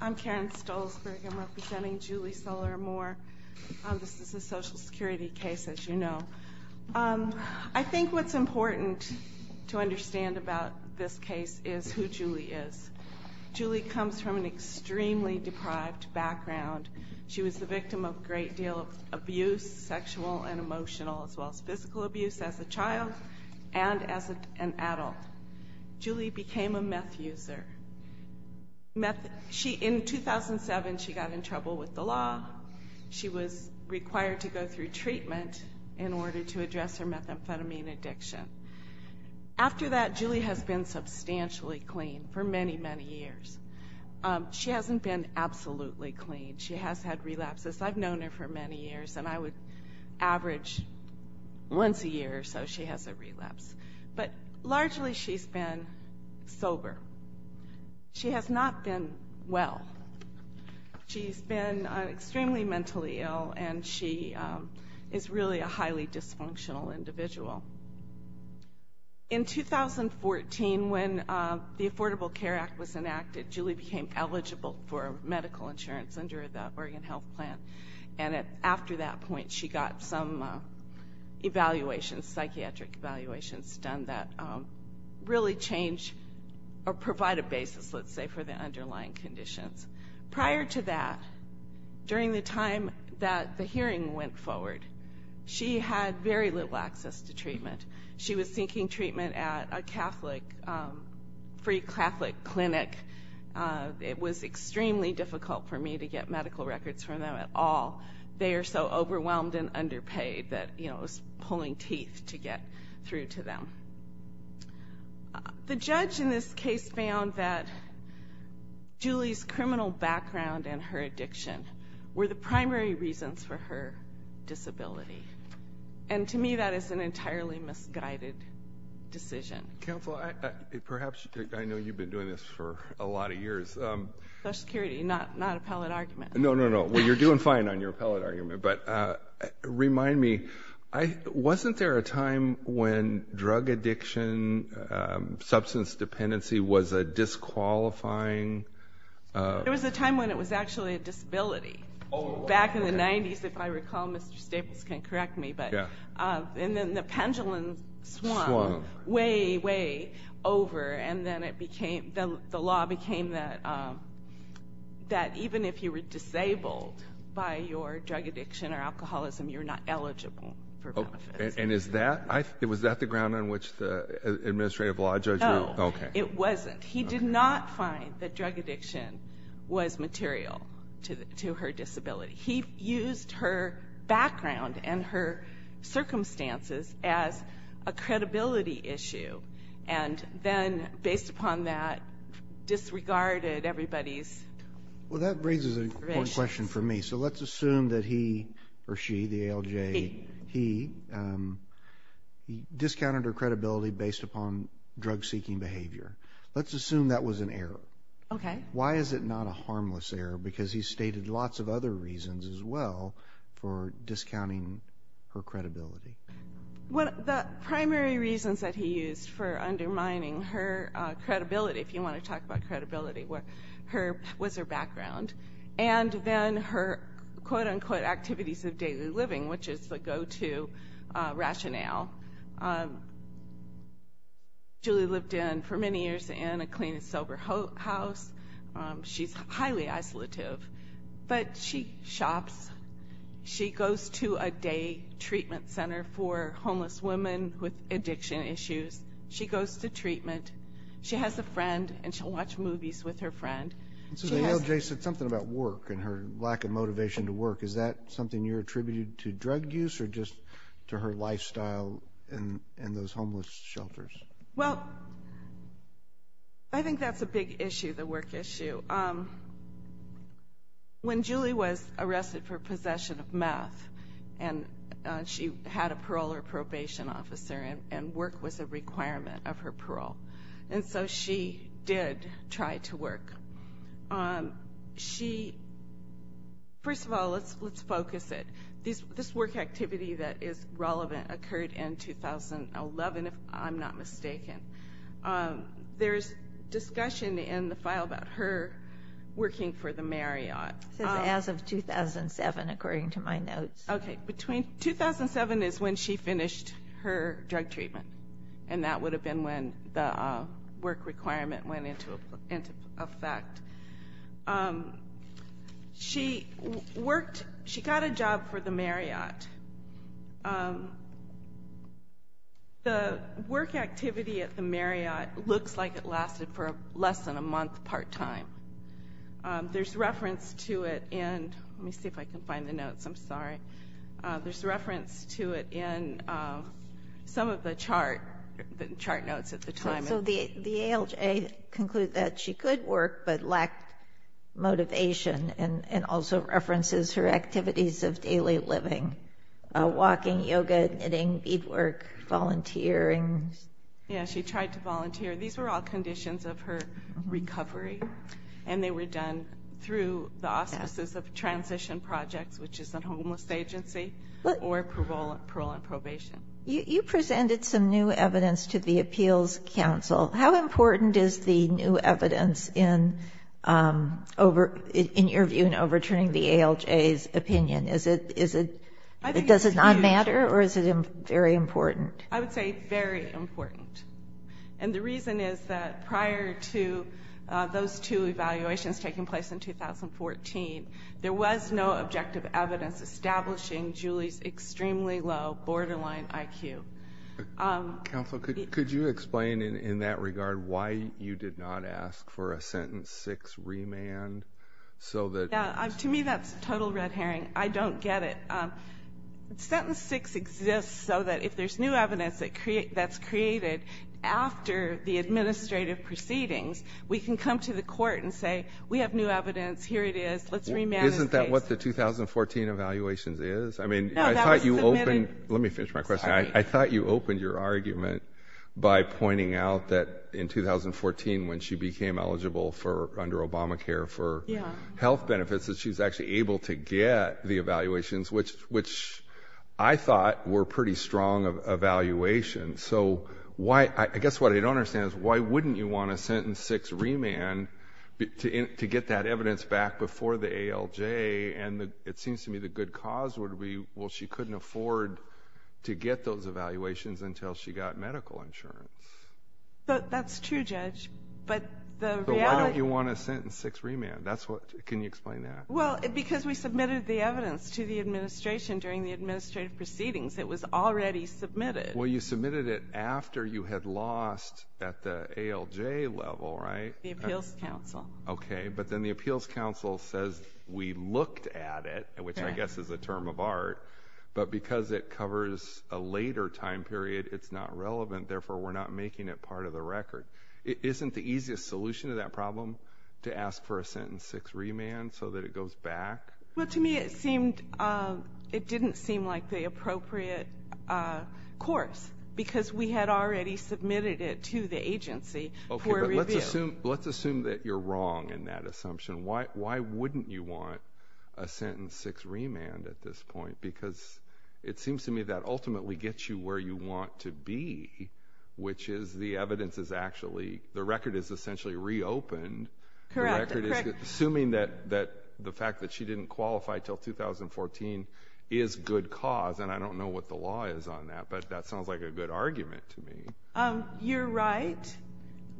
I'm Karen Stolzberg. I'm representing Julie Soler Amor. This is a social security case, as you know. I think what's important to understand about this case is who Julie is. Julie comes from an extremely deprived background. She was the victim of a great deal of abuse, sexual and emotional, as well as physical abuse as a child and as an adult. Julie became a meth user. In 2007, she got in trouble with the law. She was required to go through treatment in order to address her methamphetamine addiction. After that, Julie has been substantially clean for many, many years. She hasn't been absolutely clean. She has had relapses. I've known her for many years, and I would average once a year or so she has a relapse. But largely she's been sober. She has not been well. She's been extremely mentally ill, and she is really a highly dysfunctional individual. In 2014, when the Affordable Care Act was enacted, Julie became eligible for medical insurance under the Oregon Health Plan. After that point, she got some psychiatric evaluations done that really change or provide a basis, let's say, for the underlying conditions. Prior to that, during the time that the hearing went forward, she had very little access to treatment. She was seeking treatment at a free Catholic clinic. It was extremely difficult for me to get medical records from them at all. They are so overwhelmed and underpaid that it was pulling teeth to get through to them. The judge in this case found that Julie's criminal background and her addiction were the primary reasons for her disability. To me, that is an entirely misguided decision. Counsel, perhaps, I know you've been doing this for a lot of years. Social Security, not appellate argument. No, no, no. Well, you're doing fine on your appellate argument, but remind me, wasn't there a time when drug addiction, substance dependency was a disqualifying... There was a time when it was actually a disability. Back in the 90s, if I recall, Mr. Staples can correct me, and then the pendulum swung way, way over, and then the law became that even if you were disabled by your drug addiction or alcoholism, you're not eligible for benefits. Was that the ground on which the administrative law judge... No, it wasn't. He did not find that drug addiction was material to her disability. He used her background and her circumstances as a credibility issue. Then, based upon that, disregarded everybody's... Well, that raises a question for me. Let's assume that he or she, the ALJ, he discounted her credibility based upon drug-seeking behavior. Let's assume that was an error. Why is it not a harmless error? Because he stated lots of other reasons, as well, for discounting her credibility. The primary reasons that he used for undermining her credibility, if you want to talk about credibility, was her background, and then her, quote, unquote, activities of daily living, which is the go-to rationale. Julie lived in, for many years, in a clean and sober house. She's highly isolative, but she shops. She goes to a day treatment center for homeless women with addiction issues. She goes to treatment. She has a friend, and she'll watch movies with her friend. The ALJ said something about work and her lack of motivation to work. Is that something you're attributing to drug use or just to her lifestyle and those homeless shelters? Well, I think that's a big issue, the work issue. When Julie was arrested for possession of meth, and she had a parole or probation officer, and work was a requirement of her parole, and so she did try to work. First of all, let's focus it. This work activity that is relevant occurred in 2011, if I'm not mistaken. There's discussion in the file about her working for the Marriott. It says, as of 2007, according to my notes. Okay. 2007 is when she finished her drug treatment, and that would have been when the work requirement went into effect. She worked. She got a job for the Marriott. The work activity at the Marriott looks like it lasted for less than a month part-time. There's reference to it in, let me see if I can find the notes. I'm sorry. There's reference to it in some of the chart notes at the time. The ALJ concluded that she could work, but lacked motivation, and also references her activities of daily living, walking, yoga, knitting, beadwork, volunteering. She tried to volunteer. These were all conditions of her recovery, and they were done through the auspices of transition projects, which is a homeless agency, or parole and probation. You presented some new evidence to the Appeals Council. How important is the new evidence in your view in overturning the ALJ's opinion? Does it not matter, or is it very important? I would say very important. The reason is that prior to those two evaluations taking place in 2014, there was no objective evidence establishing Julie's extremely low borderline IQ. Counsel, could you explain in that regard why you did not ask for a sentence six remand? To me, that's total red herring. I don't get it. Sentence six exists so that if there's new evidence that's created after the administrative proceedings, we can come to the court and say, we have new evidence. Here it is. Let's remand this case. Isn't that what the 2014 evaluations is? No, that was submitted. Let me finish my question. I thought you opened your argument by pointing out that in 2014, when she became eligible under Obamacare for health benefits, that she was actually able to get the evaluations, which I thought were pretty strong evaluations. I guess what I don't understand is why wouldn't you want a sentence six remand to get that evidence back before the ALJ? It seems to me the good cause would be she couldn't afford to get those evaluations until she got medical insurance. That's true, Judge. Why don't you want a sentence six remand? Can you explain that? Because we submitted the evidence to the administration during the administrative proceedings. It was already submitted. Well, you submitted it after you had lost at the ALJ level, right? The appeals counsel. Then the appeals counsel says, we looked at it, which I guess is a term of art, but because it covers a later time period, it's not relevant. Therefore, we're not making it part of the record. Isn't the easiest solution to that problem to ask for a sentence six remand so that it goes back? To me, it didn't seem like the appropriate course, because we had already submitted it to the agency for review. Let's assume that you're wrong in that assumption. Why wouldn't you want a sentence six remand at this point? Because it seems to me that ultimately gets you where you want to be, which is the evidence is actually, the record is essentially reopened. Correct. Assuming that the fact that she didn't qualify until 2014 is good cause, and I don't know what the law is on that, but that sounds like a good argument to me. You're right.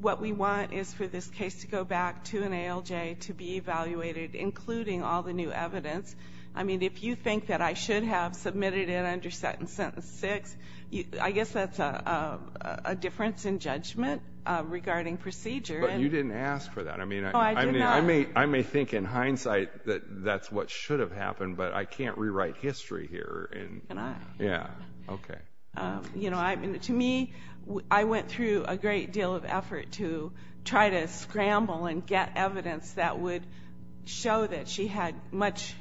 What we want is for this case to go back to an ALJ to be evaluated, including all the new evidence. I mean, if you think that I should have submitted it under sentence six, I guess that's a difference in judgment regarding procedure. But you didn't ask for that. No, I did not. I mean, I may think in hindsight that that's what should have happened, but I can't rewrite history here. Yeah, okay. You know, to me, I went through a great deal of effort to try to scramble and get evidence that would show that she had much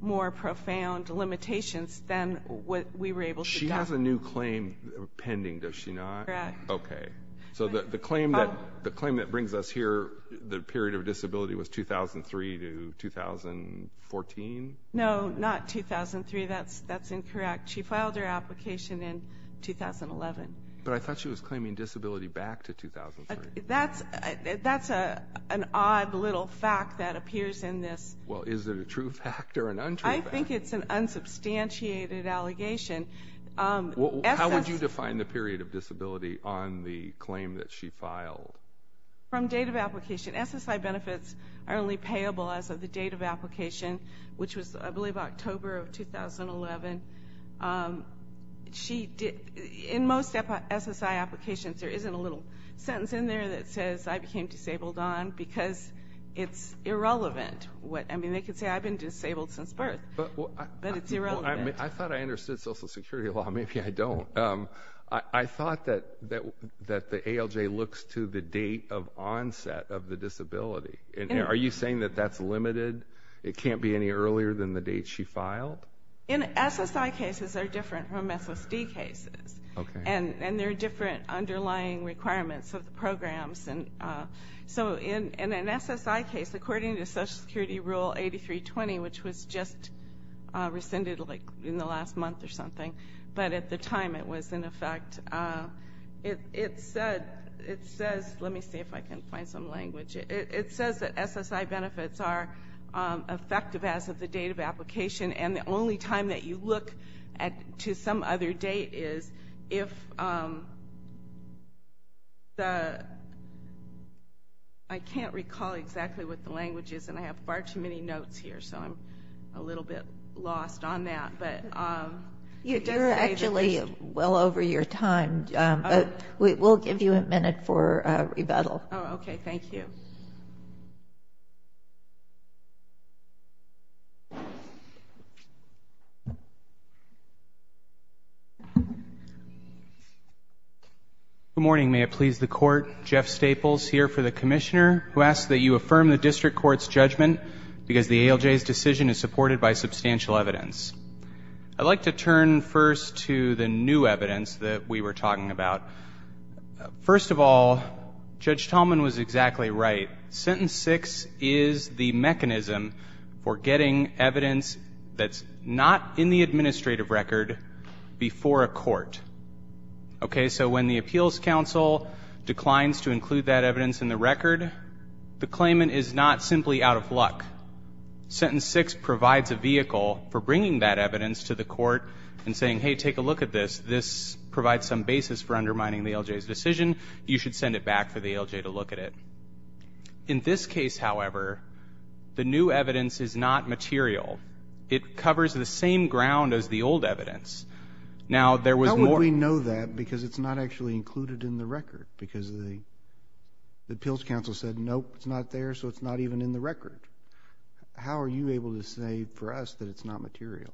more profound limitations than what we were able to do. She has a new claim pending, does she not? Correct. Okay. So the claim that brings us here, the claim that brings us here is that she filed her application in 2011. But I thought she was claiming disability back to 2003. That's an odd little fact that appears in this. Well, is it a true fact or an untrue fact? I think it's an unsubstantiated allegation. How would you define the period of disability on the claim that she filed? From date of application. SSI benefits are only payable as of the date of application, which was, I believe, October of 2011. In most SSI applications, there isn't a little sentence in there that says, I became disabled on, because it's irrelevant. I mean, they could say, I've been disabled since birth, but it's irrelevant. I thought I understood Social Security law. Maybe I don't. I thought that the ALJ looks to the date of onset of the disability. Are you saying that that's limited? It can't be any earlier than the date she filed? In SSI cases, they're different from SSD cases. And there are different underlying requirements of the programs. So in an SSI case, according to Social Security rule 8320, which was just rescinded in the last month or something, but at the time it was in effect, it says that SSI benefits are effective as of the date of application. And the only time that you look to some other date is if the, I can't recall exactly what the language is, and I have far too many notes here, so I'm a little bit lost on that. You're actually well over your time. We'll give you a minute for rebuttal. Oh, okay. Thank you. Good morning. May it please the Court. Jeff Staples here for the Commissioner, who asks that you affirm the District Court's judgment because the ALJ's decision is supported by substantial evidence. I'd like to turn first to the new evidence that we were talking about. First of all, Judge Tallman was exactly right. Sentence 6 is the mechanism for getting evidence that's not in the administrative record before a court. Okay, so when the Appeals Council declines to include that evidence in the record, the claimant is not simply out of luck. Sentence 6 provides a vehicle for bringing that evidence to the court and saying, hey, take a look at this. This provides some basis for undermining the ALJ's decision. You should send it back for the ALJ to look at it. In this case, however, the new evidence is not material. It covers the same ground as the old evidence. How would we know that because it's not actually included in the record? Because the Appeals Council said, nope, it's not there, so it's not even in the record. How are you able to say for us that it's not material?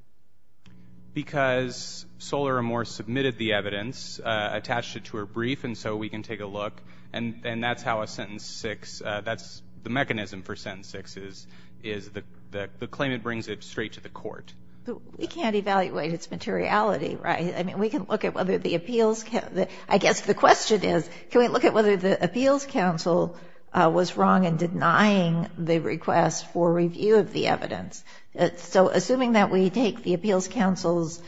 Because Solar and Morse submitted the evidence, attached it to a brief, and so we can take a look. And that's how a sentence 6, that's the mechanism for sentence 6, is the claimant brings it straight to the court. But we can't evaluate its materiality, right? I mean, we can look at whether the Appeals Council, I guess the question is, can we look at whether the Appeals Council was wrong in making the Appeals Council's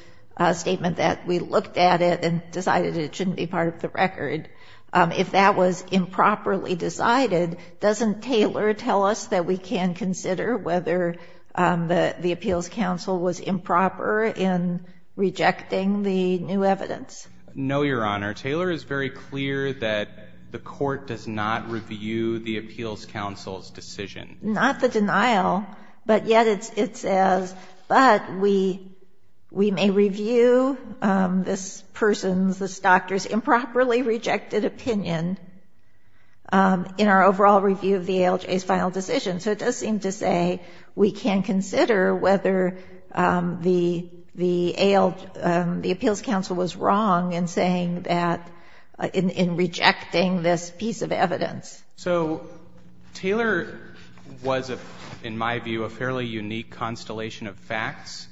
statement that we looked at it and decided it shouldn't be part of the record. If that was improperly decided, doesn't Taylor tell us that we can consider whether the Appeals Council was improper in rejecting the new evidence? No, Your Honor. Taylor is very clear that the court does not review the Appeals Council's decision. Not the denial, but yet it says, but we may review this person's, this doctor's improperly rejected opinion in our overall review of the ALJ's final decision. So it does seem to say we can consider whether the Appeals Council was wrong in saying that, in rejecting this piece of evidence. So Taylor was, in my view, a fairly unique constellation of facts.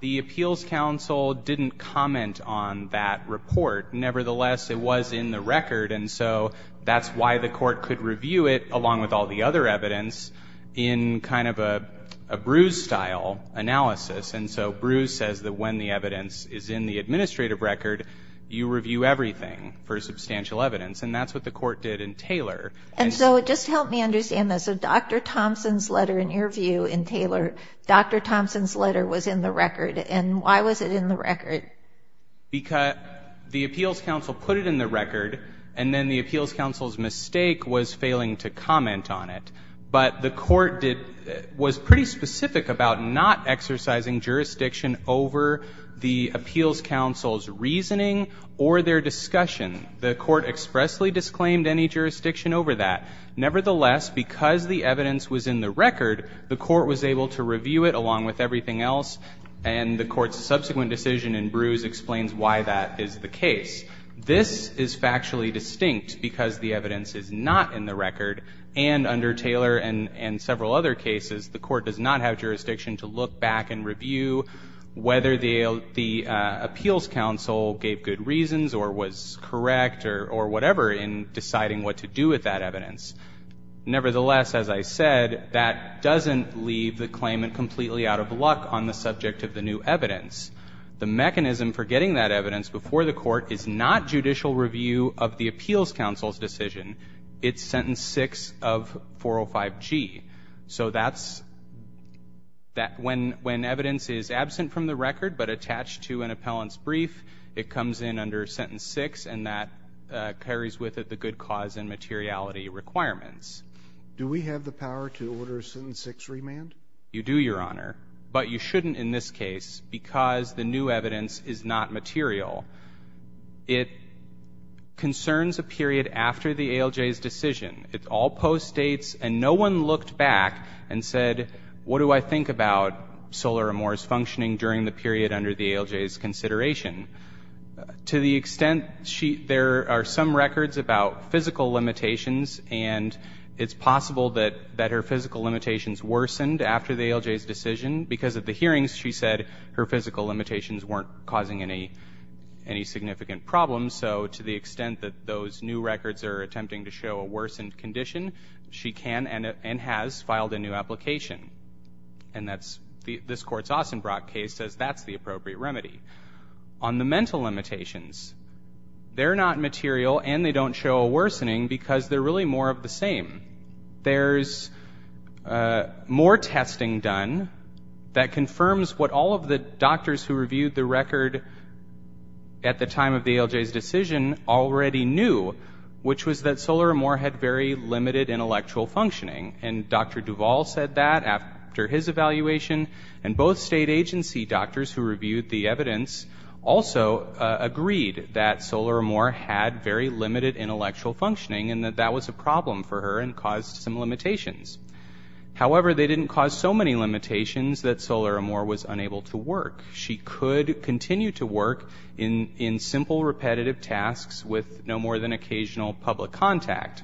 The Appeals Council didn't comment on that report. Nevertheless, it was in the record, and so that's why the court could review it, along with all the other evidence, in kind of a Bruce-style analysis. And so Bruce says that when the evidence is in the administrative record, you review everything for substantial evidence. And that's what the court did in Taylor. And so just help me understand this. So Dr. Thompson's letter, in your view, in Taylor, Dr. Thompson's letter was in the record. And why was it in the record? Because the Appeals Council put it in the record, and then the Appeals Council's mistake was failing to comment on it. But the court did, was pretty specific about not exercising jurisdiction over the Appeals Council's reasoning or their discussion. The court expressly disclaimed any jurisdiction over that. Nevertheless, because the evidence was in the record, the court was able to review it, along with everything else. And the court's subsequent decision in Bruce explains why that is the case. This is factually distinct, because the evidence is not in the record. And under Taylor and several other cases, the court does not have to review whether the Appeals Council gave good reasons or was correct or whatever in deciding what to do with that evidence. Nevertheless, as I said, that doesn't leave the claimant completely out of luck on the subject of the new evidence. The mechanism for getting that evidence before the court is not judicial review of the Appeals Council's decision. It's sentence 6 of 405G. So that's that when when evidence is absent from the record, but attached to an appellant's brief, it comes in under sentence 6, and that carries with it the good cause and materiality requirements. Do we have the power to order sentence 6 remand? You do, Your Honor. But you shouldn't in this case, because the new evidence is not material. It concerns a period after the ALJ's decision. It all postdates, and no one looked back and said, what do I think about Solar Amores functioning during the period under the ALJ's consideration? To the extent there are some records about physical limitations, and it's possible that her physical limitations worsened after the ALJ's decision, because of the hearings she said her physical limitations weren't causing any significant problems. So to the extent that those new records are attempting to show a worsened condition, she can and has filed a new application. And this Court's Ostenbrock case says that's the appropriate remedy. On the mental limitations, they're not material and they don't show a worsening because they're really more of the same. There's more testing done that confirms what all of the doctors who reviewed the record at the time of the ALJ's decision already knew, which was that Solar Amore had very limited intellectual functioning. And Dr. Duvall said that after his evaluation, and both state agency doctors who reviewed the evidence also agreed that that was a problem for her and caused some limitations. However, they didn't cause so many limitations that Solar Amore was unable to work. She could continue to work in simple repetitive tasks with no more than occasional public contact.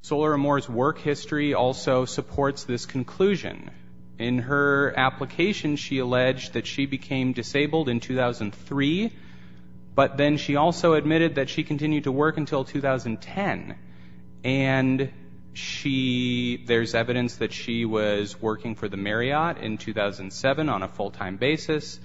Solar Amore's work history also supports this conclusion. In her application, she alleged that she became disabled in 2003, but then she also admitted that she continued to work until 2010. And she, there's evidence that she was working for the Marriott in 2007 on a full-time basis.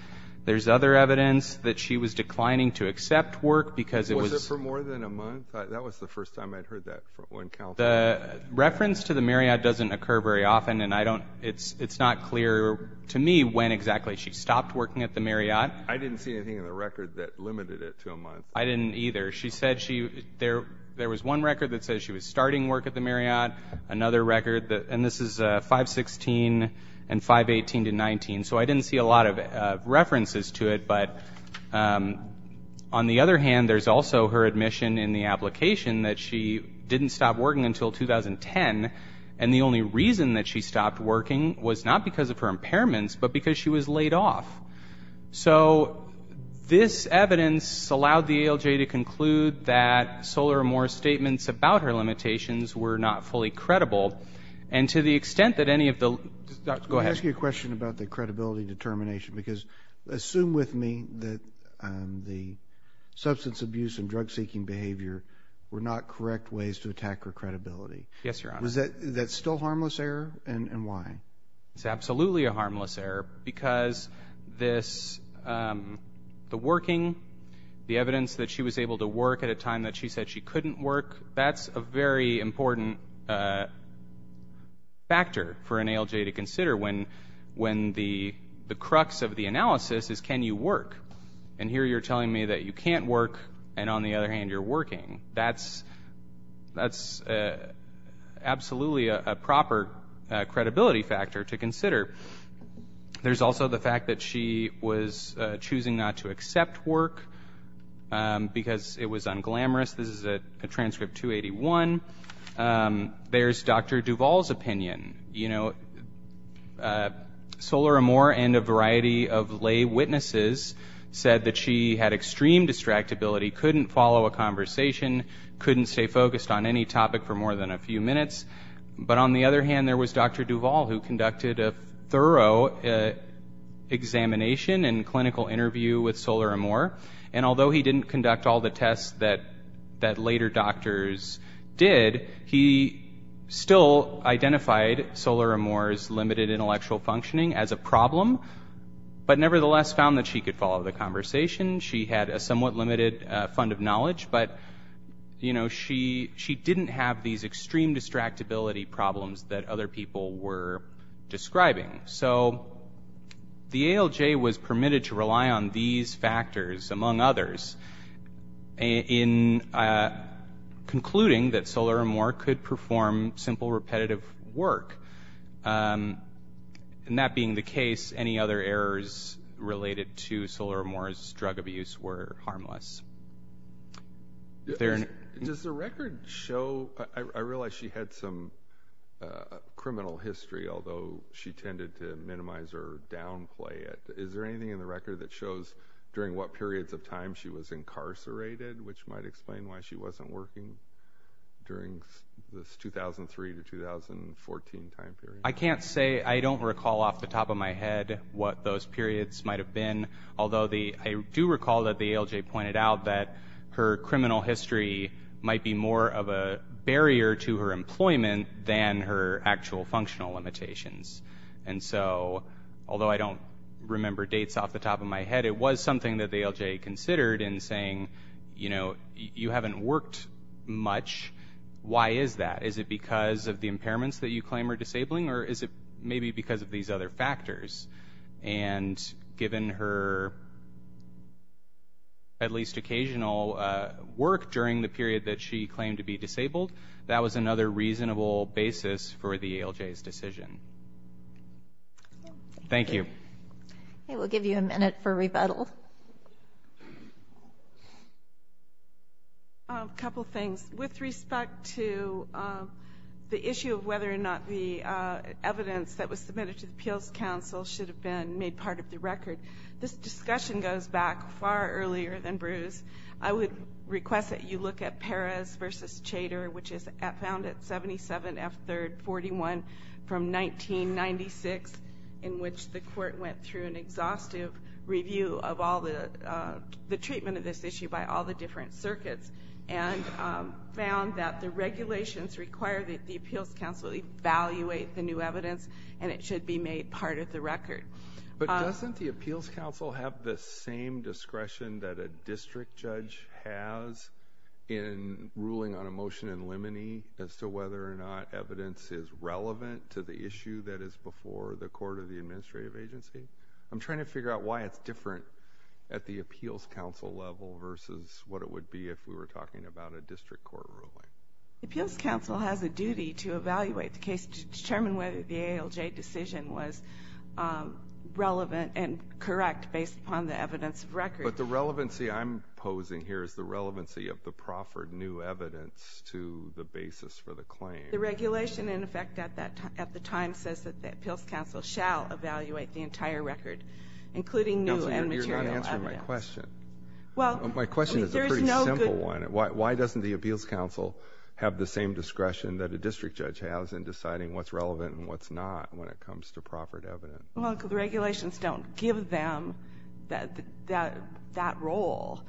There's other evidence that she was declining to accept work because it was- Was it for more than a month? That was the first time I'd heard that from one counsel. The reference to the Marriott doesn't occur very often, and I don't, it's not clear to me when exactly she stopped working at the Marriott. I didn't see anything in the record that limited it to a month. I didn't either. She said she, there was one record that said she was starting work at the Marriott, another record that, and this is 516 and 518 to 19, so I didn't see a lot of references to it. But on the other hand, there's also her admission in the application that she didn't stop working until 2010, and the only reason that she stopped working was not because of her impairments, but because she was laid off. So this evidence allowed the ALJ to conclude that Solar Amore's statements about her limitations were not fully credible, and to the extent that any of the- Go ahead. Let me ask you a question about the credibility determination, because assume with me that the substance abuse and drug-seeking behavior were not correct ways to attack her credibility. Yes, Your Honor. That's still a harmless error, and why? It's absolutely a harmless error, because this, the working, the evidence that she was able to work at a time that she said she couldn't work, that's a very important factor for an ALJ to consider when the crux of the analysis is can you work? And here you're telling me that you can't work, and on the other hand, you're working. That's absolutely a proper credibility factor to consider. There's also the fact that she was choosing not to accept work, because it was unglamorous. This is a transcript 281. There's Dr. Duvall's opinion. You know, Solar Amore and a variety of lay witnesses said that she had extreme distractibility, couldn't follow a conversation, couldn't stay focused on any topic for more than a few minutes, but on the other hand, there was Dr. Duvall who conducted a thorough examination and clinical interview with Solar Amore, and although he didn't conduct all the tests that later doctors did, he still identified Solar Amore's limited intellectual functioning as a problem, but nevertheless found that she could follow the conversation. She had a somewhat limited fund of knowledge, but, you know, she didn't have these extreme distractibility problems that other people were describing. So the ALJ was permitted to rely on these factors, among others, in concluding that Solar Amore could perform simple repetitive work. And that being the case, any other errors related to Solar Amore's drug abuse were harmless. Does the record show, I realize she had some criminal history, although she tended to minimize her downplay. Is there anything in the record that shows during what periods of time she was incarcerated, which might explain why she wasn't working during this 2003 to 2014 time period? I can't say, I don't recall off the top of my head what those periods might have been, although I do recall that the ALJ pointed out that her criminal history might be more of a barrier to her employment than her actual functional limitations. And so, although I don't remember dates off the top of my head, it was something that the ALJ considered in saying, you know, you haven't worked much, why is that? Is it because of the impairments that you claim are disabling, or is it maybe because of these other factors? And given her at least occasional work during the period that she claimed to be disabled, that was another reasonable basis for the ALJ's decision. Thank you. Okay, we'll give you a minute for rebuttal. A couple things. With respect to the issue of whether or not the evidence that was submitted to the Appeals Council should have been made part of the record, this discussion goes back far earlier than Bruce. I would request that you look at Perez v. Chater, which is found at 77 F. 3rd, 41, from 1996, in which the court went through an exhaustive review of all the treatment of this issue by all the different circuits, and found that the regulations require that the Appeals Council evaluate the new evidence, and it should be made part of the record. But doesn't the Appeals Council have the same discretion that a district judge has in ruling on a motion in limine as to whether or not evidence is relevant to the issue that is before the court or the administrative agency? I'm trying to figure out why it's different at the Appeals Council level versus what it would be if we were talking about a district court ruling. Appeals Council has a duty to evaluate the case to determine whether the ALJ decision was relevant and correct based upon the evidence of record. But the relevancy I'm posing here is the relevancy of the proffered new evidence to the basis for the claim. The regulation, in effect, at the time says that the Appeals Council shall evaluate the entire record, including new and material evidence. Counselor, you're not answering my question. My question is a pretty simple one. Why doesn't the Appeals Council have the same discretion that a district judge has in deciding what's relevant and what's not when it comes to proffered evidence? Well, because the regulations don't give them that role.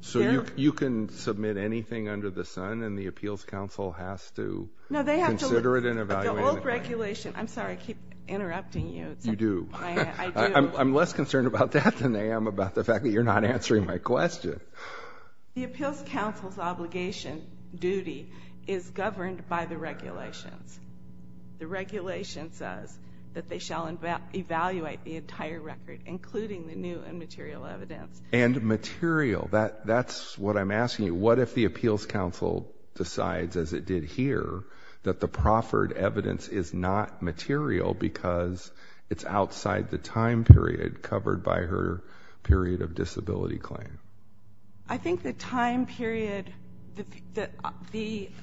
So you can submit anything under the sun, and the Appeals Council has to consider it and evaluate it? The old regulation, I'm sorry, I keep interrupting you. You do. I do. I'm less concerned about that than I am about the fact that you're not answering my question. The Appeals Council's obligation, duty, is governed by the regulations. The regulation says that they shall evaluate the entire record, including the new and material evidence. And material, that's what I'm asking you. What if the Appeals Council decides, as it did here, that the proffered evidence is not material because it's outside the time period covered by her period of disability claim? I think the time period,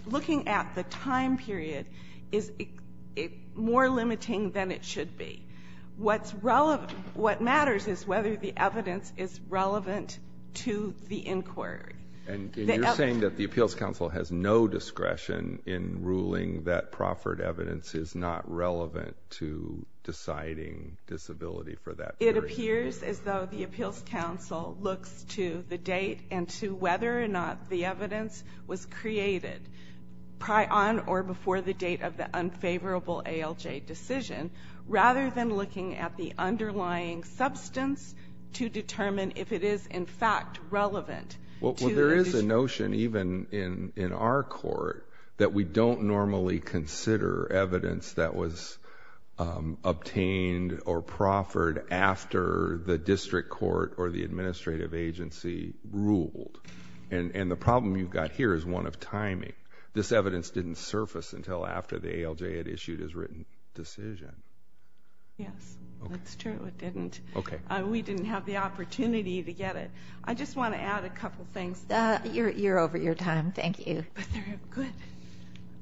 looking at the time period, is more limiting than it should be. What matters is whether the evidence is relevant to the inquiry. And you're saying that the Appeals Council has no discretion in ruling that proffered evidence is not relevant to deciding disability for that period? It appears as though the Appeals Council looks to the date and to whether or not the evidence was created, prior on or before the date of the unfavorable ALJ decision, rather than looking at the underlying substance to determine if it is, in fact, relevant to the decision. Well, there is a notion, even in our court, that we don't normally consider evidence that was obtained or proffered after the district court or the administrative agency ruled. And the problem you've got here is one of timing. This evidence didn't surface until after the ALJ had issued its written decision. Yes, that's true, it didn't. We didn't have the opportunity to get it. I just want to add a couple things. You're over your time. Thank you. But they're good.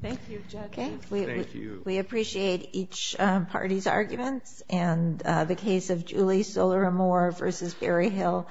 Thank you, Judges. Thank you. We appreciate each party's arguments, and the case of Julie Solaramore v. Barry Hill